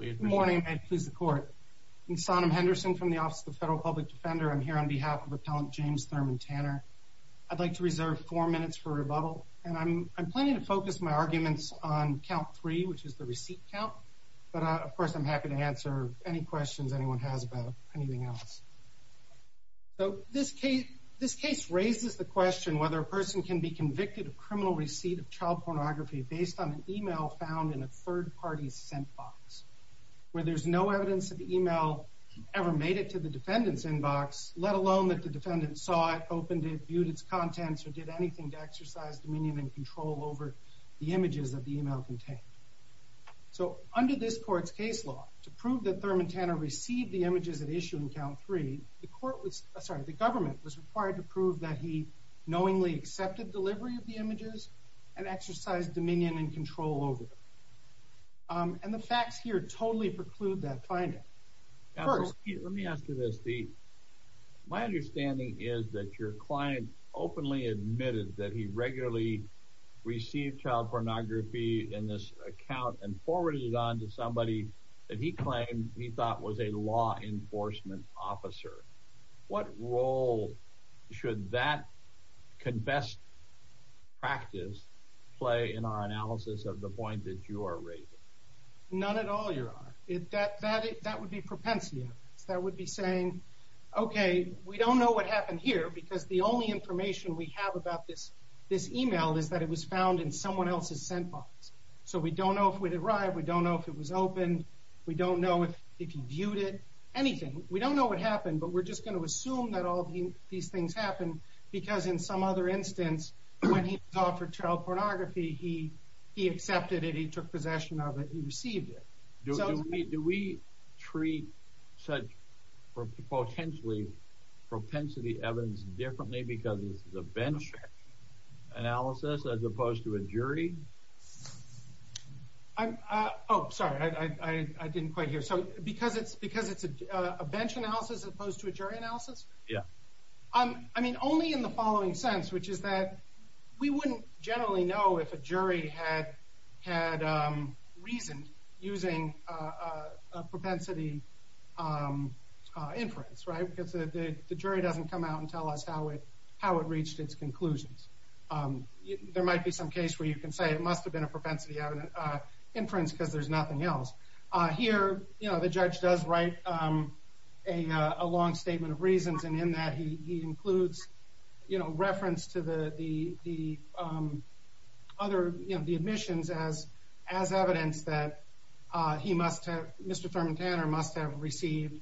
Good morning, and please the court. I'm Sonam Henderson from the Office of the Federal Public Defender. I'm here on behalf of Appellant James Thurman Tanner. I'd like to reserve four minutes for rebuttal, and I'm planning to focus my arguments on count three, which is the receipt count, but of course I'm happy to answer any questions anyone has about anything else. So this case raises the question whether a person can be convicted of criminal receipt of child pornography based on an email found in a third party's sent box, where there's no evidence that the email ever made it to the defendant's inbox, let alone that the defendant saw it, opened it, viewed its contents, or did anything to exercise dominion and control over the images that the email contained. So under this court's case law, to prove that Thurman Tanner received the images at issue in count three, the government was required to prove that he knowingly accepted delivery of the images and exercise dominion and control over them. And the facts here totally preclude that finding. First, let me ask you this. My understanding is that your client openly admitted that he regularly received child pornography in this account and forwarded it on to somebody that he claimed he thought was a law enforcement officer. What role should that confessed practice play in our analysis of the point that you are raising? None at all, Your Honor. That would be propensity. That would be saying, okay, we don't know what happened here because the only information we have about this email is that it was found in someone else's sent box. So we don't know if it arrived, we don't know if it was opened, we don't know if he viewed it, anything. We don't know what happened, but we're just going to assume that all these things happened because in some other instance, when he was offered child pornography, he accepted it, he took possession of it, he received it. Do we treat such potentially propensity evidence differently because it's a bench analysis as opposed to a jury? Oh, sorry, I didn't quite hear. So because it's a bench analysis as opposed to a jury analysis? Yeah. I mean, only in the following sense, which is that we wouldn't generally know if a jury had reasoned using propensity inference, right? Because the jury doesn't come out and tell us how it reached its conclusions. There might be some case where you can say it must have been a propensity inference because there's nothing else. Here, you know, the judge does write a long statement of reasons and in that he includes, you know, reference to the other, you know, the admissions as evidence that he must have, Mr. Thurman Tanner must have received,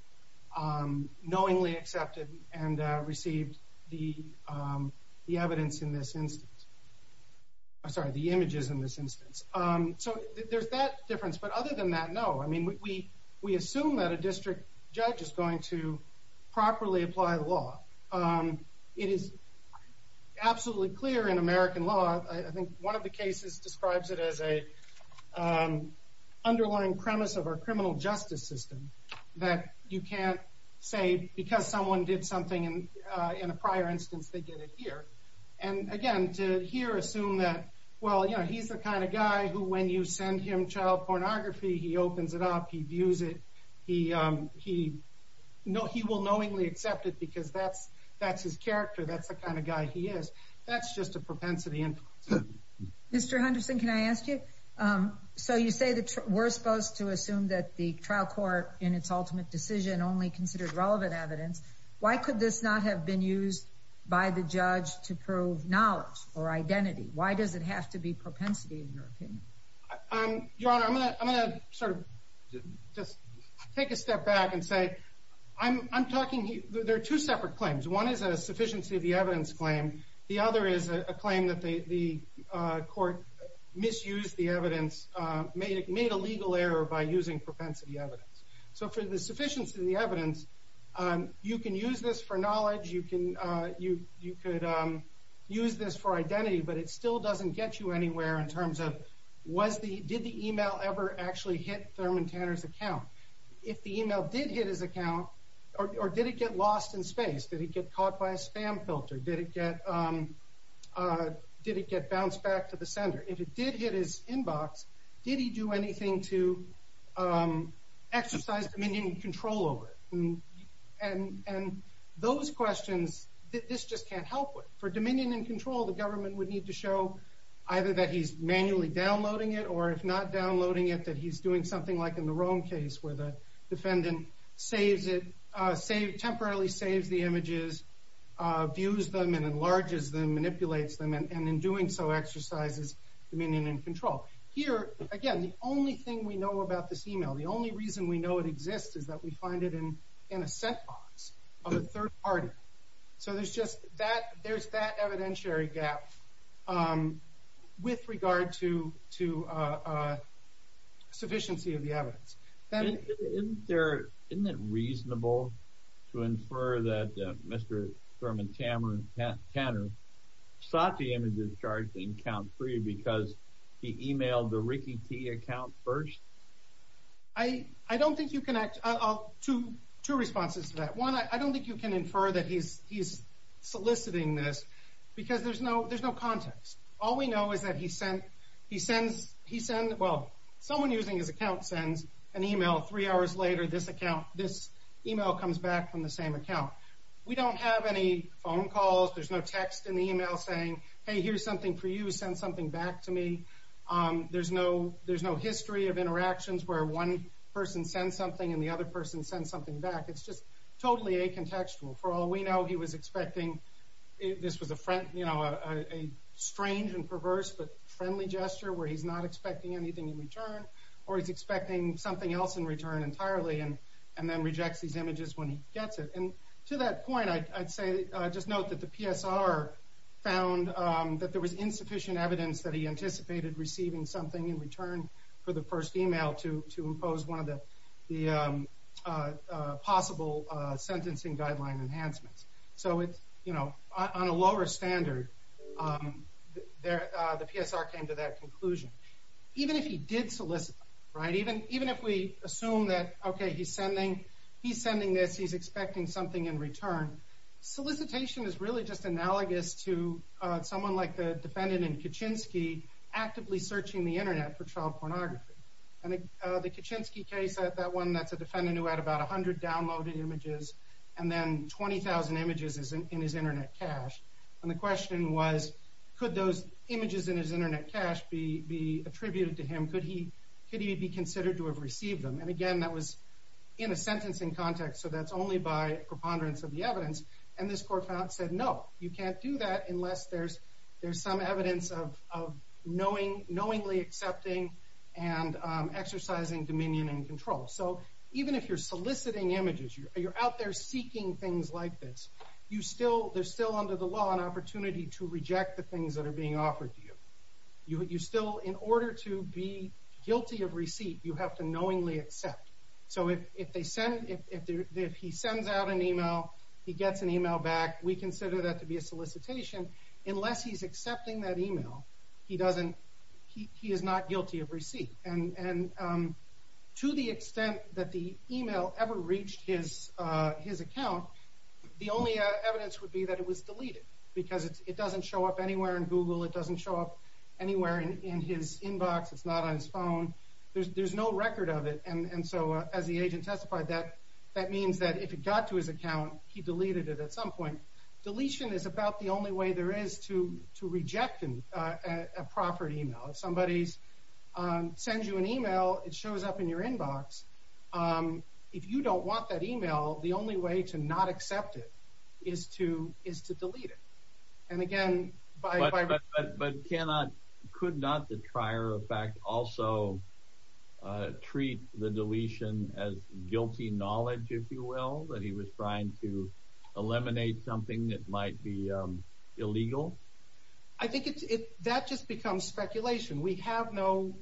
knowingly accepted and received the evidence in this instance. I'm sorry, the images in this instance. So there's that difference, but other than that, no. I mean, we assume that a district judge is going to properly apply the law. It is absolutely clear in American law, I think one of the cases describes it as an underlying premise of our criminal justice system that you can't say because someone did something in a prior instance, they get it here. And again, to here assume that, well, you know, he's the kind of guy who when you send him child pornography, he opens it up, he views it, he will knowingly accept it because that's his character. That's the kind of guy he is. That's just a propensity inference. Mr. Henderson, can I ask you? So you say that we're supposed to assume that the trial court in its ultimate decision only considered relevant evidence. Why could this not have been used by the judge to prove knowledge or identity? Why does it have to be propensity in your opinion? Your Honor, I'm going to sort of just take a step back and say I'm talking, there are two separate claims. One is a sufficiency of the evidence claim. The other is a claim that the court misused the evidence, made a legal error by using propensity evidence. So for the sufficiency of the evidence, you can use this for knowledge, you could use this for identity, but it still doesn't get you anywhere in terms of did the email ever actually hit Thurman Tanner's account? If the email did hit his account, or did it get lost in space? Did he get caught by a spam filter? Did it get bounced back to the sender? If it did hit his inbox, did he do anything to exercise dominion and control over it? And those questions, this just can't help with. For dominion and control, the government would need to show either that he's manually downloading it or if not downloading it, that he's doing something like in the Rome case, where the defendant temporarily saves the images, views them and enlarges them, manipulates them, and in doing so exercises dominion and control. Here, again, the only thing we know about this email, the only reason we know it exists, is that we find it in a sent box of a third party. So there's that evidentiary gap with regard to sufficiency of the evidence. Isn't it reasonable to infer that Mr. Thurman Tanner sought the images charged in count three because he emailed the Ricky T. account first? I don't think you can... Two responses to that. One, I don't think you can infer that he's soliciting this because there's no context. All we know is that he sends... Well, someone using his account sends an email three hours later, this email comes back from the same account. We don't have any phone calls, there's no text in the email saying, hey, here's something for you, send something back to me. There's no history of interactions where one person sends something and the other person sends something back. It's just totally acontextual. For all we know, he was expecting... This was a strange and perverse but friendly gesture, where he's not expecting anything in return, or he's expecting something else in return entirely, and then rejects these images when he gets it. And to that point, I'd say... Just note that the PSR found that there was insufficient evidence that he anticipated receiving something in return for the first email to impose one of the possible sentencing guideline enhancements. So on a lower standard, the PSR came to that conclusion. Even if he did solicit, right? Even if we assume that, okay, he's sending this, he's expecting something in return, solicitation is really just analogous to someone like the defendant in Kaczynski actively searching the internet for child pornography. And the Kaczynski case, that one, that's a defendant who had about 100 downloaded images and then 20,000 images in his internet cache. And the question was, could those images in his internet cache be attributed to him? Could he be considered to have received them? And again, that was in a sentencing context, so that's only by preponderance of the evidence. And this court found, said, no, you can't do that unless there's some evidence of knowingly accepting and exercising dominion and control. So even if you're soliciting images, you're out there seeking things like this, there's still under the law an opportunity to reject the things that are being offered to you. You still, in order to be guilty of receipt, you have to knowingly accept. So if he sends out an email, he gets an email back, we consider that to be a solicitation. Unless he's accepting that email, he is not guilty of receipt. And to the extent that the email ever reached his account, the only evidence would be that it was deleted because it doesn't show up anywhere in Google, it doesn't show up anywhere in his inbox, it's not on his phone, there's no record of it. And so as the agent testified, that means that if it got to his account, he deleted it at some point. Deletion is about the only way there is to reject a proper email. If somebody sends you an email, it shows up in your inbox. If you don't want that email, the only way to not accept it is to delete it. And again, by... But could not the trier of fact also treat the deletion as guilty knowledge, if you will, that he was trying to eliminate something that might be illegal? I think that just becomes speculation. We have no...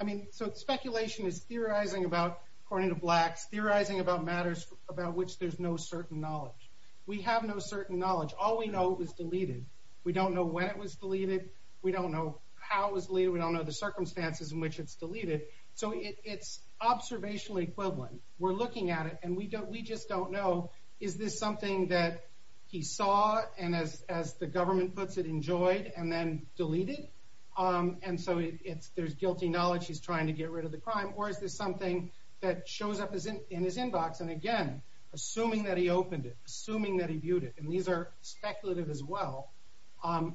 I mean, so speculation is theorizing about, according to Blacks, theorizing about matters about which there's no certain knowledge. We have no certain knowledge. All we know is it was deleted. We don't know when it was deleted. We don't know how it was deleted. We don't know the circumstances in which it's deleted. So it's observationally equivalent. We're looking at it, and we just don't know, is this something that he saw and, as the government puts it, enjoyed and then deleted? And so there's guilty knowledge he's trying to get rid of the crime, or is this something that shows up in his inbox? And again, assuming that he opened it, assuming that he viewed it, and these are speculative as well,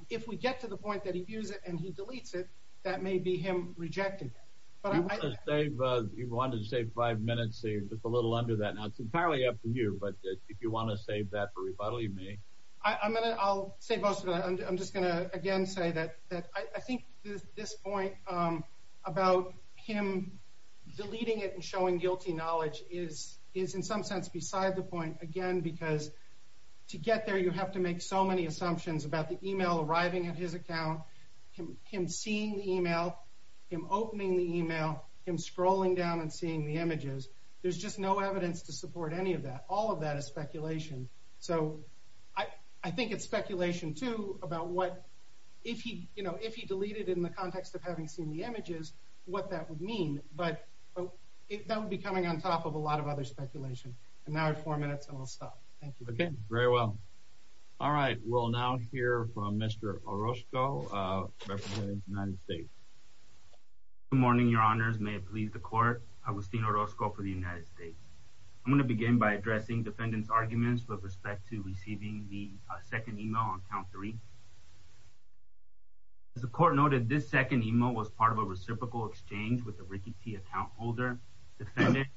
if we get to the point that he views it and he deletes it, that may be him rejecting it. You wanted to save five minutes, so you're just a little under that. Now, it's entirely up to you, but if you want to save that for rebuttal, you may. I'll save most of it. I'm just going to, again, say that I think this point about him deleting it and showing guilty knowledge is, in some sense, beside the point, again, because to get there you have to make so many assumptions about the email arriving at his account, him seeing the email, him opening the email, him scrolling down and seeing the images. There's just no evidence to support any of that. All of that is speculation. So I think it's speculation, too, about what, if he deleted it in the context of having seen the images, what that would mean, but that would be coming on top of a lot of other speculation. And now I have four minutes, and I'll stop. Thank you. Okay, very well. All right, we'll now hear from Mr. Orozco, representing the United States. Good morning, Your Honors. May it please the Court. Agustin Orozco for the United States. I'm going to begin by addressing defendants' arguments with respect to receiving the second email on count three. As the Court noted, this second email was part of a reciprocal exchange with the Ricky T. account holder. The defendant,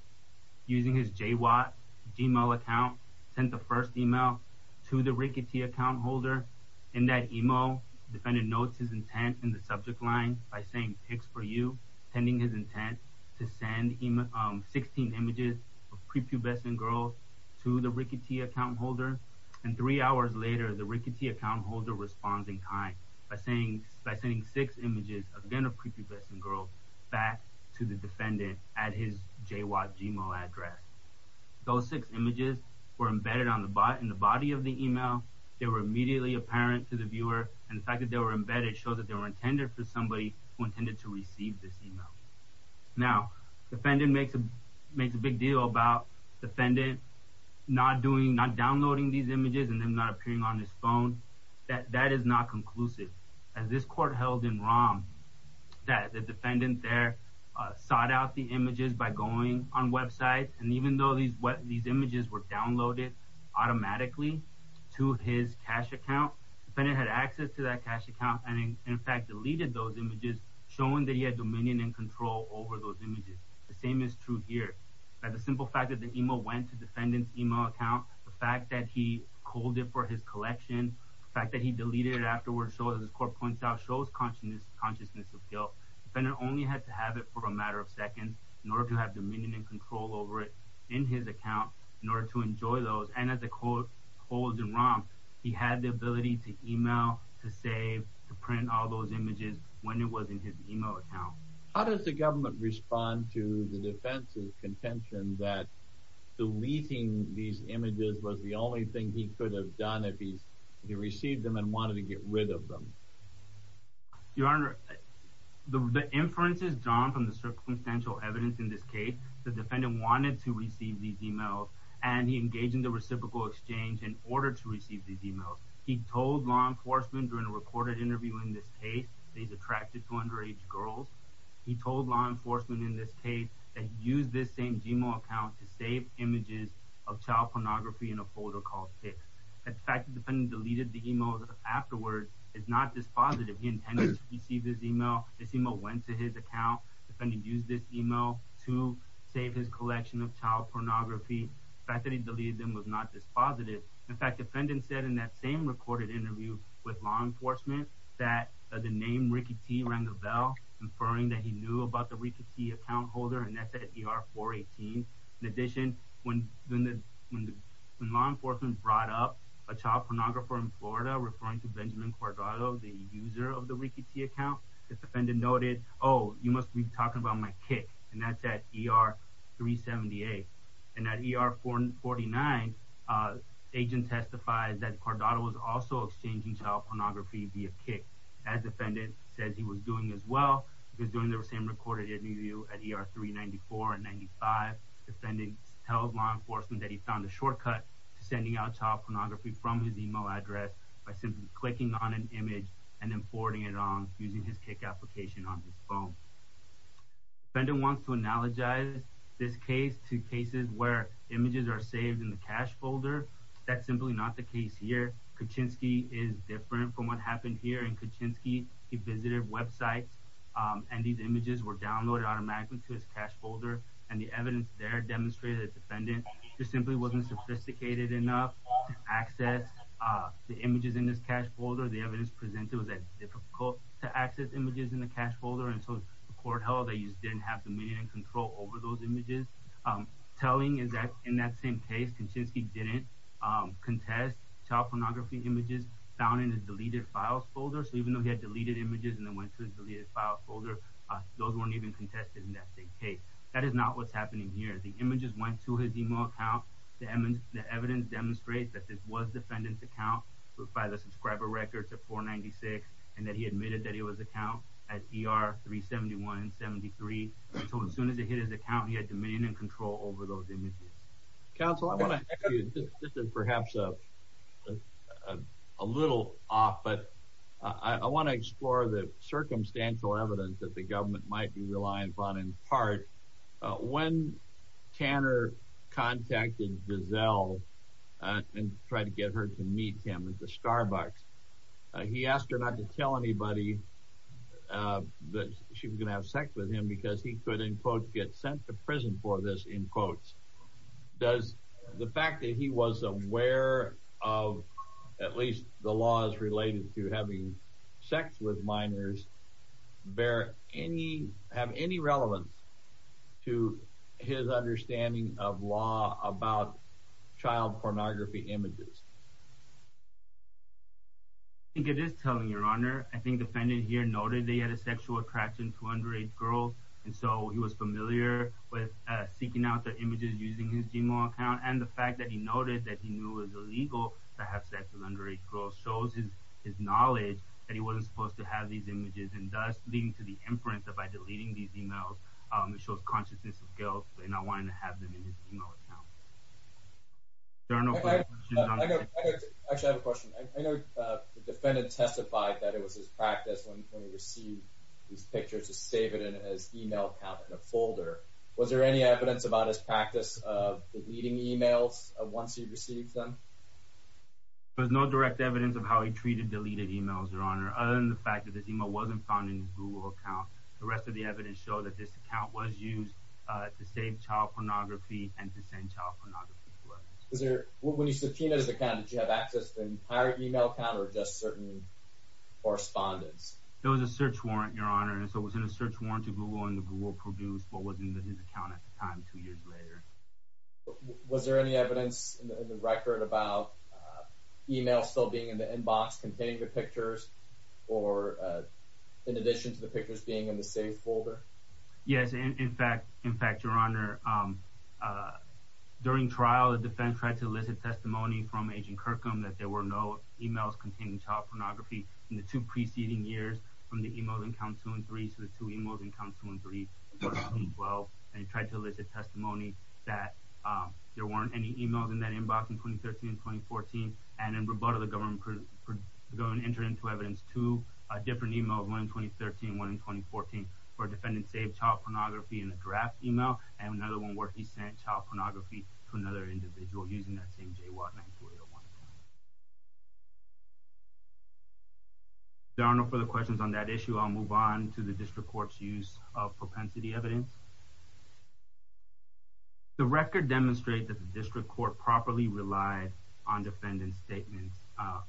using his JWOT email account, sent the first email to the Ricky T. account holder. In that email, the defendant notes his intent in the subject line by saying, Picks for you, pending his intent to send 16 images of prepubescent girls to the Ricky T. account holder. And three hours later, the Ricky T. account holder responds in kind by sending six images, again of prepubescent girls, back to the defendant at his JWOT gmail address. Those six images were embedded in the body of the email. They were immediately apparent to the viewer. And the fact that they were embedded shows that they were intended for somebody who intended to receive this email. Now, the defendant makes a big deal about the defendant not downloading these images and them not appearing on his phone. That is not conclusive. As this Court held in Rom that the defendant there sought out the images by going on websites, and even though these images were downloaded automatically to his cash account, the defendant had access to that cash account and in fact deleted those images, showing that he had dominion and control over those images. The same is true here. The simple fact that the email went to the defendant's email account, the fact that he called it for his collection, the fact that he deleted it afterwards, as this Court points out, shows consciousness of guilt. The defendant only had to have it for a matter of seconds in order to have dominion and control over it in his account, in order to enjoy those, and as the Court holds in Rom, he had the ability to email, to save, to print all those images when it was in his email account. How does the government respond to the defense's contention that deleting these images was the only thing he could have done if he received them and wanted to get rid of them? Your Honor, the inference is drawn from the circumstantial evidence in this case. The defendant wanted to receive these emails, and he engaged in the reciprocal exchange in order to receive these emails. He told law enforcement during a recorded interview in this case that he's attracted to underage girls. He told law enforcement in this case that he used this same Gmail account to save images of child pornography in a folder called Pics. The fact that the defendant deleted the emails afterwards is not dispositive. He intended to receive this email. This email went to his account. The defendant used this email to save his collection of child pornography. The fact that he deleted them was not dispositive. In fact, the defendant said in that same recorded interview with law enforcement that the name Ricky T. rang a bell, inferring that he knew about the Ricky T. account holder, and that's at ER-418. In addition, when law enforcement brought up a child pornographer in Florida referring to Benjamin Cordaro, the user of the Ricky T. account, the defendant noted, oh, you must be talking about my kick, and that's at ER-378. And at ER-449, the agent testified that Cordaro was also exchanging child pornography via kick, as the defendant said he was doing as well. He was doing the same recorded interview at ER-394 and 95. The defendant tells law enforcement that he found a shortcut to sending out child pornography from his email address by simply clicking on an image and then forwarding it on using his kick application on his phone. The defendant wants to analogize this case to cases where images are saved in the cache folder. That's simply not the case here. Kuczynski is different from what happened here. In Kuczynski, he visited websites, and these images were downloaded automatically to his cache folder, and the evidence there demonstrated that the defendant just simply wasn't sophisticated enough to access the images in his cache folder. The evidence presented was that it's difficult to access images in the cache folder, and so the court held that he just didn't have dominion and control over those images. Telling is that in that same case, Kuczynski didn't contest child pornography images found in his deleted files folder. So even though he had deleted images and then went to his deleted files folder, those weren't even contested in that same case. That is not what's happening here. The images went to his email account. The evidence demonstrates that this was the defendant's account by the subscriber records at 496, and that he admitted that it was an account at ER 371 and 73. So as soon as it hit his account, he had dominion and control over those images. Counsel, I want to ask you, this is perhaps a little off, but I want to explore the circumstantial evidence that the government might be reliant upon in part. When Tanner contacted Giselle and tried to get her to meet him at the Starbucks, he asked her not to tell anybody that she was going to have sex with him because he could, in quotes, get sent to prison for this, in quotes. Does the fact that he was aware of at least the laws related to having sex with minors have any relevance to his understanding of law about child pornography images? I think it is telling, Your Honor. I think the defendant here noted that he had a sexual attraction to underage girls, and so he was familiar with seeking out their images using his Gmail account, and the fact that he noted that he knew it was illegal to have sex with underage girls shows his knowledge that he wasn't supposed to have these images, and thus leading to the imprint that by deleting these emails, it shows consciousness of guilt in not wanting to have them in his email account. Actually, I have a question. I know the defendant testified that it was his practice when he received these pictures to save it in his email account in a folder. Was there any evidence about his practice of deleting emails once he received them? There was no direct evidence of how he treated deleted emails, Your Honor, other than the fact that this email wasn't found in his Google account. The rest of the evidence showed that this account was used to save child pornography and to send child pornography to others. When you subpoenaed his account, did you have access to an entire email account or just certain correspondence? There was a search warrant, Your Honor, and so it was in a search warrant to Google, and the Google produced what was in his account at the time two years later. Was there any evidence in the record about emails still being in the inbox containing the pictures in addition to the pictures being in the saved folder? Yes. In fact, Your Honor, during trial, the defense tried to elicit testimony from Agent Kirkham that there were no emails containing child pornography in the two preceding years from the emails in counts 2 and 3. And he tried to elicit testimony that there weren't any emails in that inbox in 2013 and 2014, and in rebuttal, the government entered into evidence two different emails, one in 2013 and one in 2014, where a defendant saved child pornography in a draft email and another one where he sent child pornography to another individual using that same JWAT 9401. If there are no further questions on that issue, I'll move on to the district court. I'll move on to the district court's use of propensity evidence. The record demonstrates that the district court properly relied on defendant statements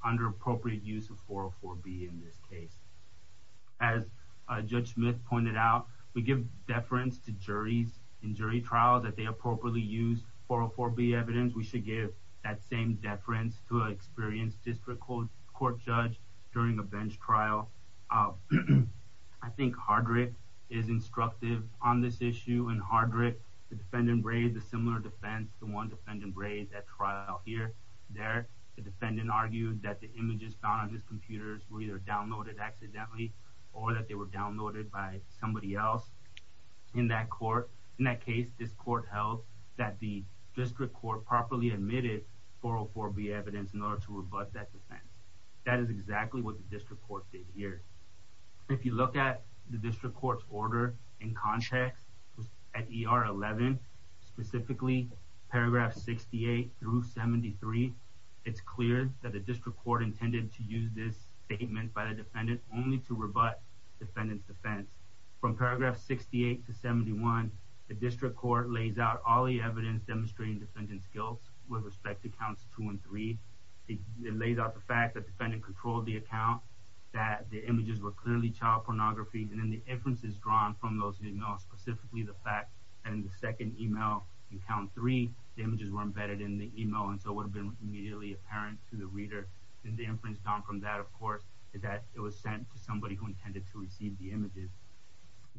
under appropriate use of 404B in this case. As Judge Smith pointed out, we give deference to juries in jury trials that they appropriately use 404B evidence. We should give that same deference to an experienced district court judge during a bench trial. Hardrick is instructive on this issue. In Hardrick, the defendant raised a similar defense to one defendant raised at trial here. There, the defendant argued that the images found on his computers were either downloaded accidentally or that they were downloaded by somebody else. In that case, this court held that the district court properly admitted 404B evidence in order to rebut that defense. That is exactly what the district court did here. If you look at the district court's order in context at ER 11, specifically paragraph 68 through 73, it's clear that the district court intended to use this statement by the defendant only to rebut defendant's defense. From paragraph 68 to 71, the district court lays out all the evidence demonstrating defendant's guilt with respect to counts 2 and 3. It lays out the fact that defendant controlled the account, that the images were clearly child pornography, and then the inference is drawn from those emails, specifically the fact that in the second email in count 3, the images were embedded in the email and so would have been immediately apparent to the reader. And the inference drawn from that, of course, is that it was sent to somebody who intended to receive the images.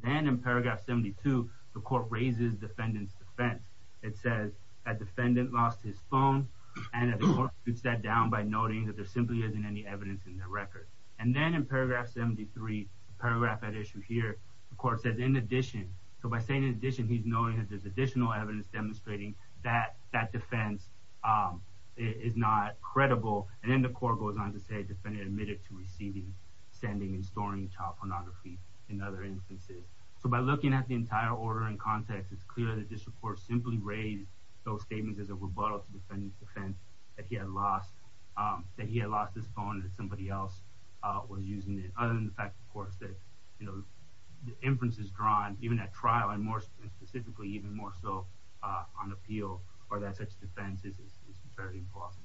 Then in paragraph 72, the court raises defendant's defense. It says that defendant lost his phone, and the court boots that down by noting that there simply isn't any evidence in the record. And then in paragraph 73, the paragraph at issue here, the court says in addition. So by saying in addition, he's noting that there's additional evidence demonstrating that that defense is not credible. And then the court goes on to say defendant admitted to receiving, sending, and storing child pornography in other instances. So by looking at the entire order in context, it's clear that this report simply raised those statements as a rebuttal to defendant's defense that he had lost his phone and that somebody else was using it, other than the fact, of course, that the inference is drawn, even at trial and more specifically, even more so on appeal, or that such defense is very plausible.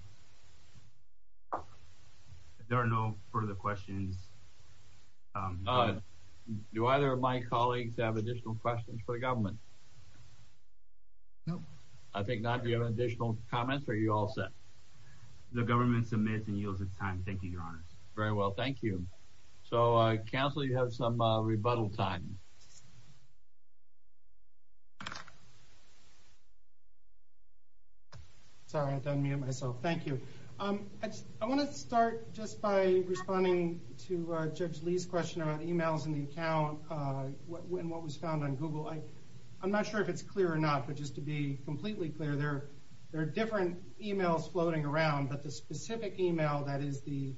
If there are no further questions. Do either of my colleagues have additional questions for the government? No. I think not. Do you have additional comments, or are you all set? The government submits and yields its time. Thank you, Your Honor. Very well. Thank you. So, counsel, you have some rebuttal time. Sorry. I thought I muted myself. Thank you. I want to start just by responding to Judge Lee's question about emails in the account and what was found on Google. I'm not sure if it's clear or not, but just to be completely clear, there are different emails floating around, but the specific email, that is the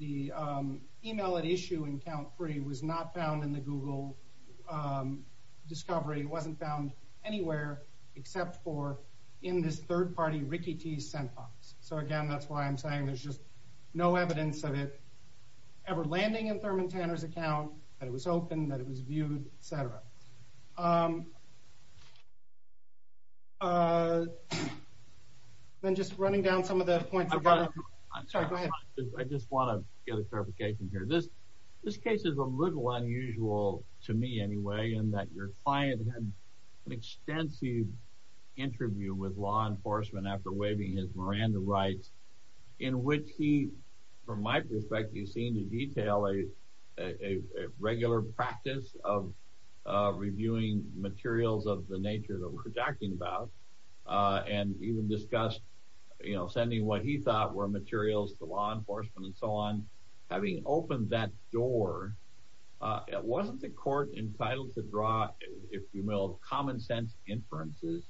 email at issue in count three, was not found in the Google discovery. It wasn't found anywhere except for in this third-party Ricky T. sent box. So, again, that's why I'm saying there's just no evidence of it ever landing in Thurman Tanner's account, that it was open, that it was viewed, et cetera. Then just running down some of the points about it. I'm sorry. Go ahead. I just want to get a clarification here. This case is a little unusual to me anyway, in that your client had an extensive interview with law enforcement after waiving his Miranda rights, in which he, from my perspective, seemed to detail a regular practice of reviewing materials of the nature that we're talking about and even discussed, you know, sending what he thought were materials to law enforcement and so on. Having opened that door, wasn't the court entitled to draw, if you will, common-sense inferences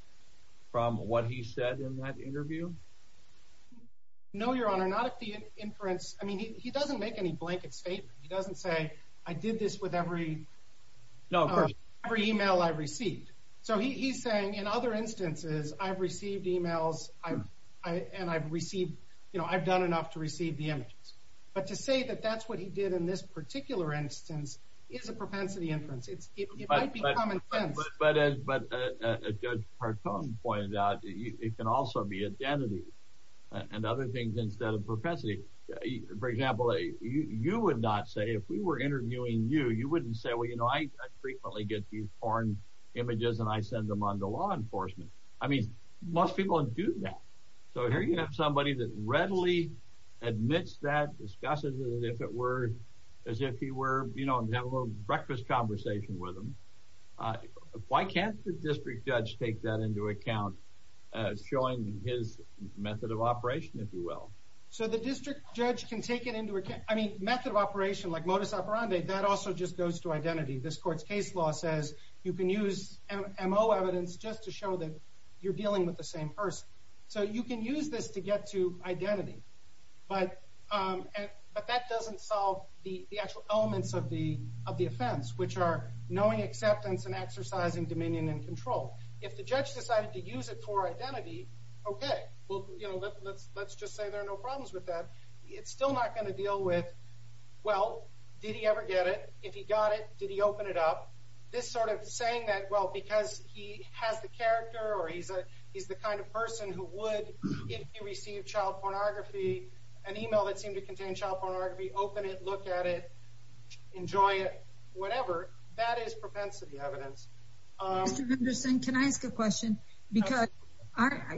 from what he said in that interview? No, Your Honor. Not the inference. I mean, he doesn't make any blanket statements. He doesn't say, I did this with every email I received. So he's saying, in other instances, I've received emails and I've received, you know, I've done enough to receive the images. But to say that that's what he did in this particular instance is a propensity inference. It might be common sense. But as Judge Partone pointed out, it can also be identity and other things instead of propensity. For example, you would not say, if we were interviewing you, you wouldn't say, well, you know, I frequently get these porn images and I send them on to law enforcement. I mean, most people do that. So here you have somebody that readily admits that, discusses it as if he were, you know, having a little breakfast conversation with him. Why can't the district judge take that into account, showing his method of operation, if you will? So the district judge can take it into account. I mean, method of operation, like modus operandi, that also just goes to identity. This court's case law says you can use MO evidence just to show that you're So you can use this to get to identity. But that doesn't solve the actual elements of the offense, which are knowing acceptance and exercising dominion and control. If the judge decided to use it for identity, okay. Well, you know, let's just say there are no problems with that. It's still not going to deal with, well, did he ever get it? If he got it, did he open it up? This sort of saying that, well, because he has the character or he's the kind of person who would, if he received child pornography, an email that seemed to contain child pornography, open it, look at it, enjoy it, whatever, that is propensity evidence. Mr. Henderson, can I ask a question? Because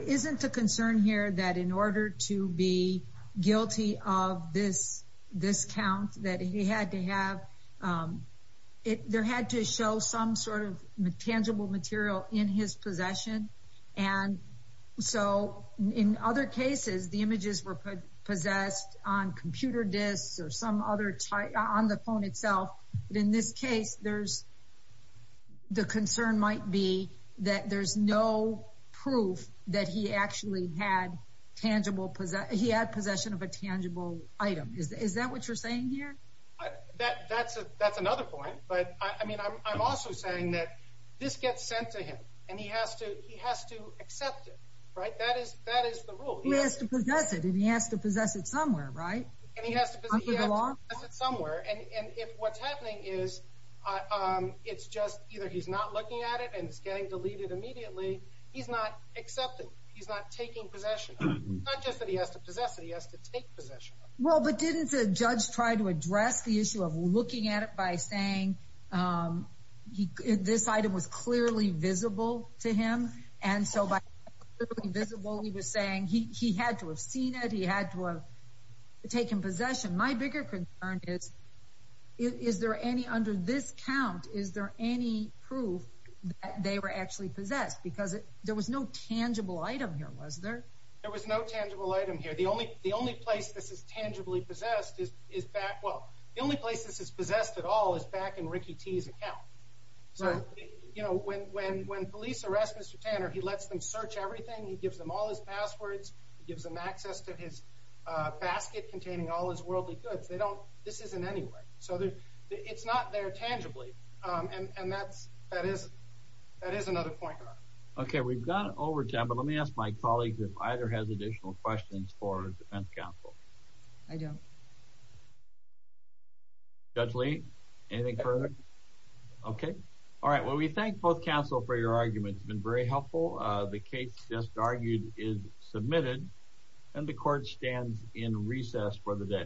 isn't the concern here that in order to be guilty of this, this count that he had to have, there had to show some sort of tangible material in his possession? And so in other cases, the images were possessed on computer disks or some other, on the phone itself. But in this case, there's, the concern might be that there's no proof that he actually had tangible, he had possession of a tangible item. Is that what you're saying here? That's another point. But, I mean, I'm also saying that this gets sent to him. And he has to accept it, right? That is the rule. He has to possess it, and he has to possess it somewhere, right? And he has to possess it somewhere. And if what's happening is it's just either he's not looking at it and it's getting deleted immediately, he's not accepting, he's not taking possession of it. It's not just that he has to possess it, he has to take possession of it. Well, but didn't the judge try to address the issue of looking at it by saying this item was clearly visible to him? And so by clearly visible, he was saying he had to have seen it, he had to have taken possession. My bigger concern is, is there any, under this count, is there any proof that they were actually possessed? Because there was no tangible item here, was there? There was no tangible item here. The only place this is tangibly possessed is back, well, the only place this is possessed at all is back in Ricky T's account. So, you know, when police arrest Mr. Tanner, he lets them search everything, he gives them all his passwords, he gives them access to his basket containing all his worldly goods. They don't, this isn't anywhere. So it's not there tangibly, and that is another point. Okay, we've gone over time, but let me ask my colleague if either has additional questions for defense counsel. I don't. Judge Lee, anything further? Okay. All right, well, we thank both counsel for your arguments. It's been very helpful. The case just argued is submitted, and the court stands in recess for the day.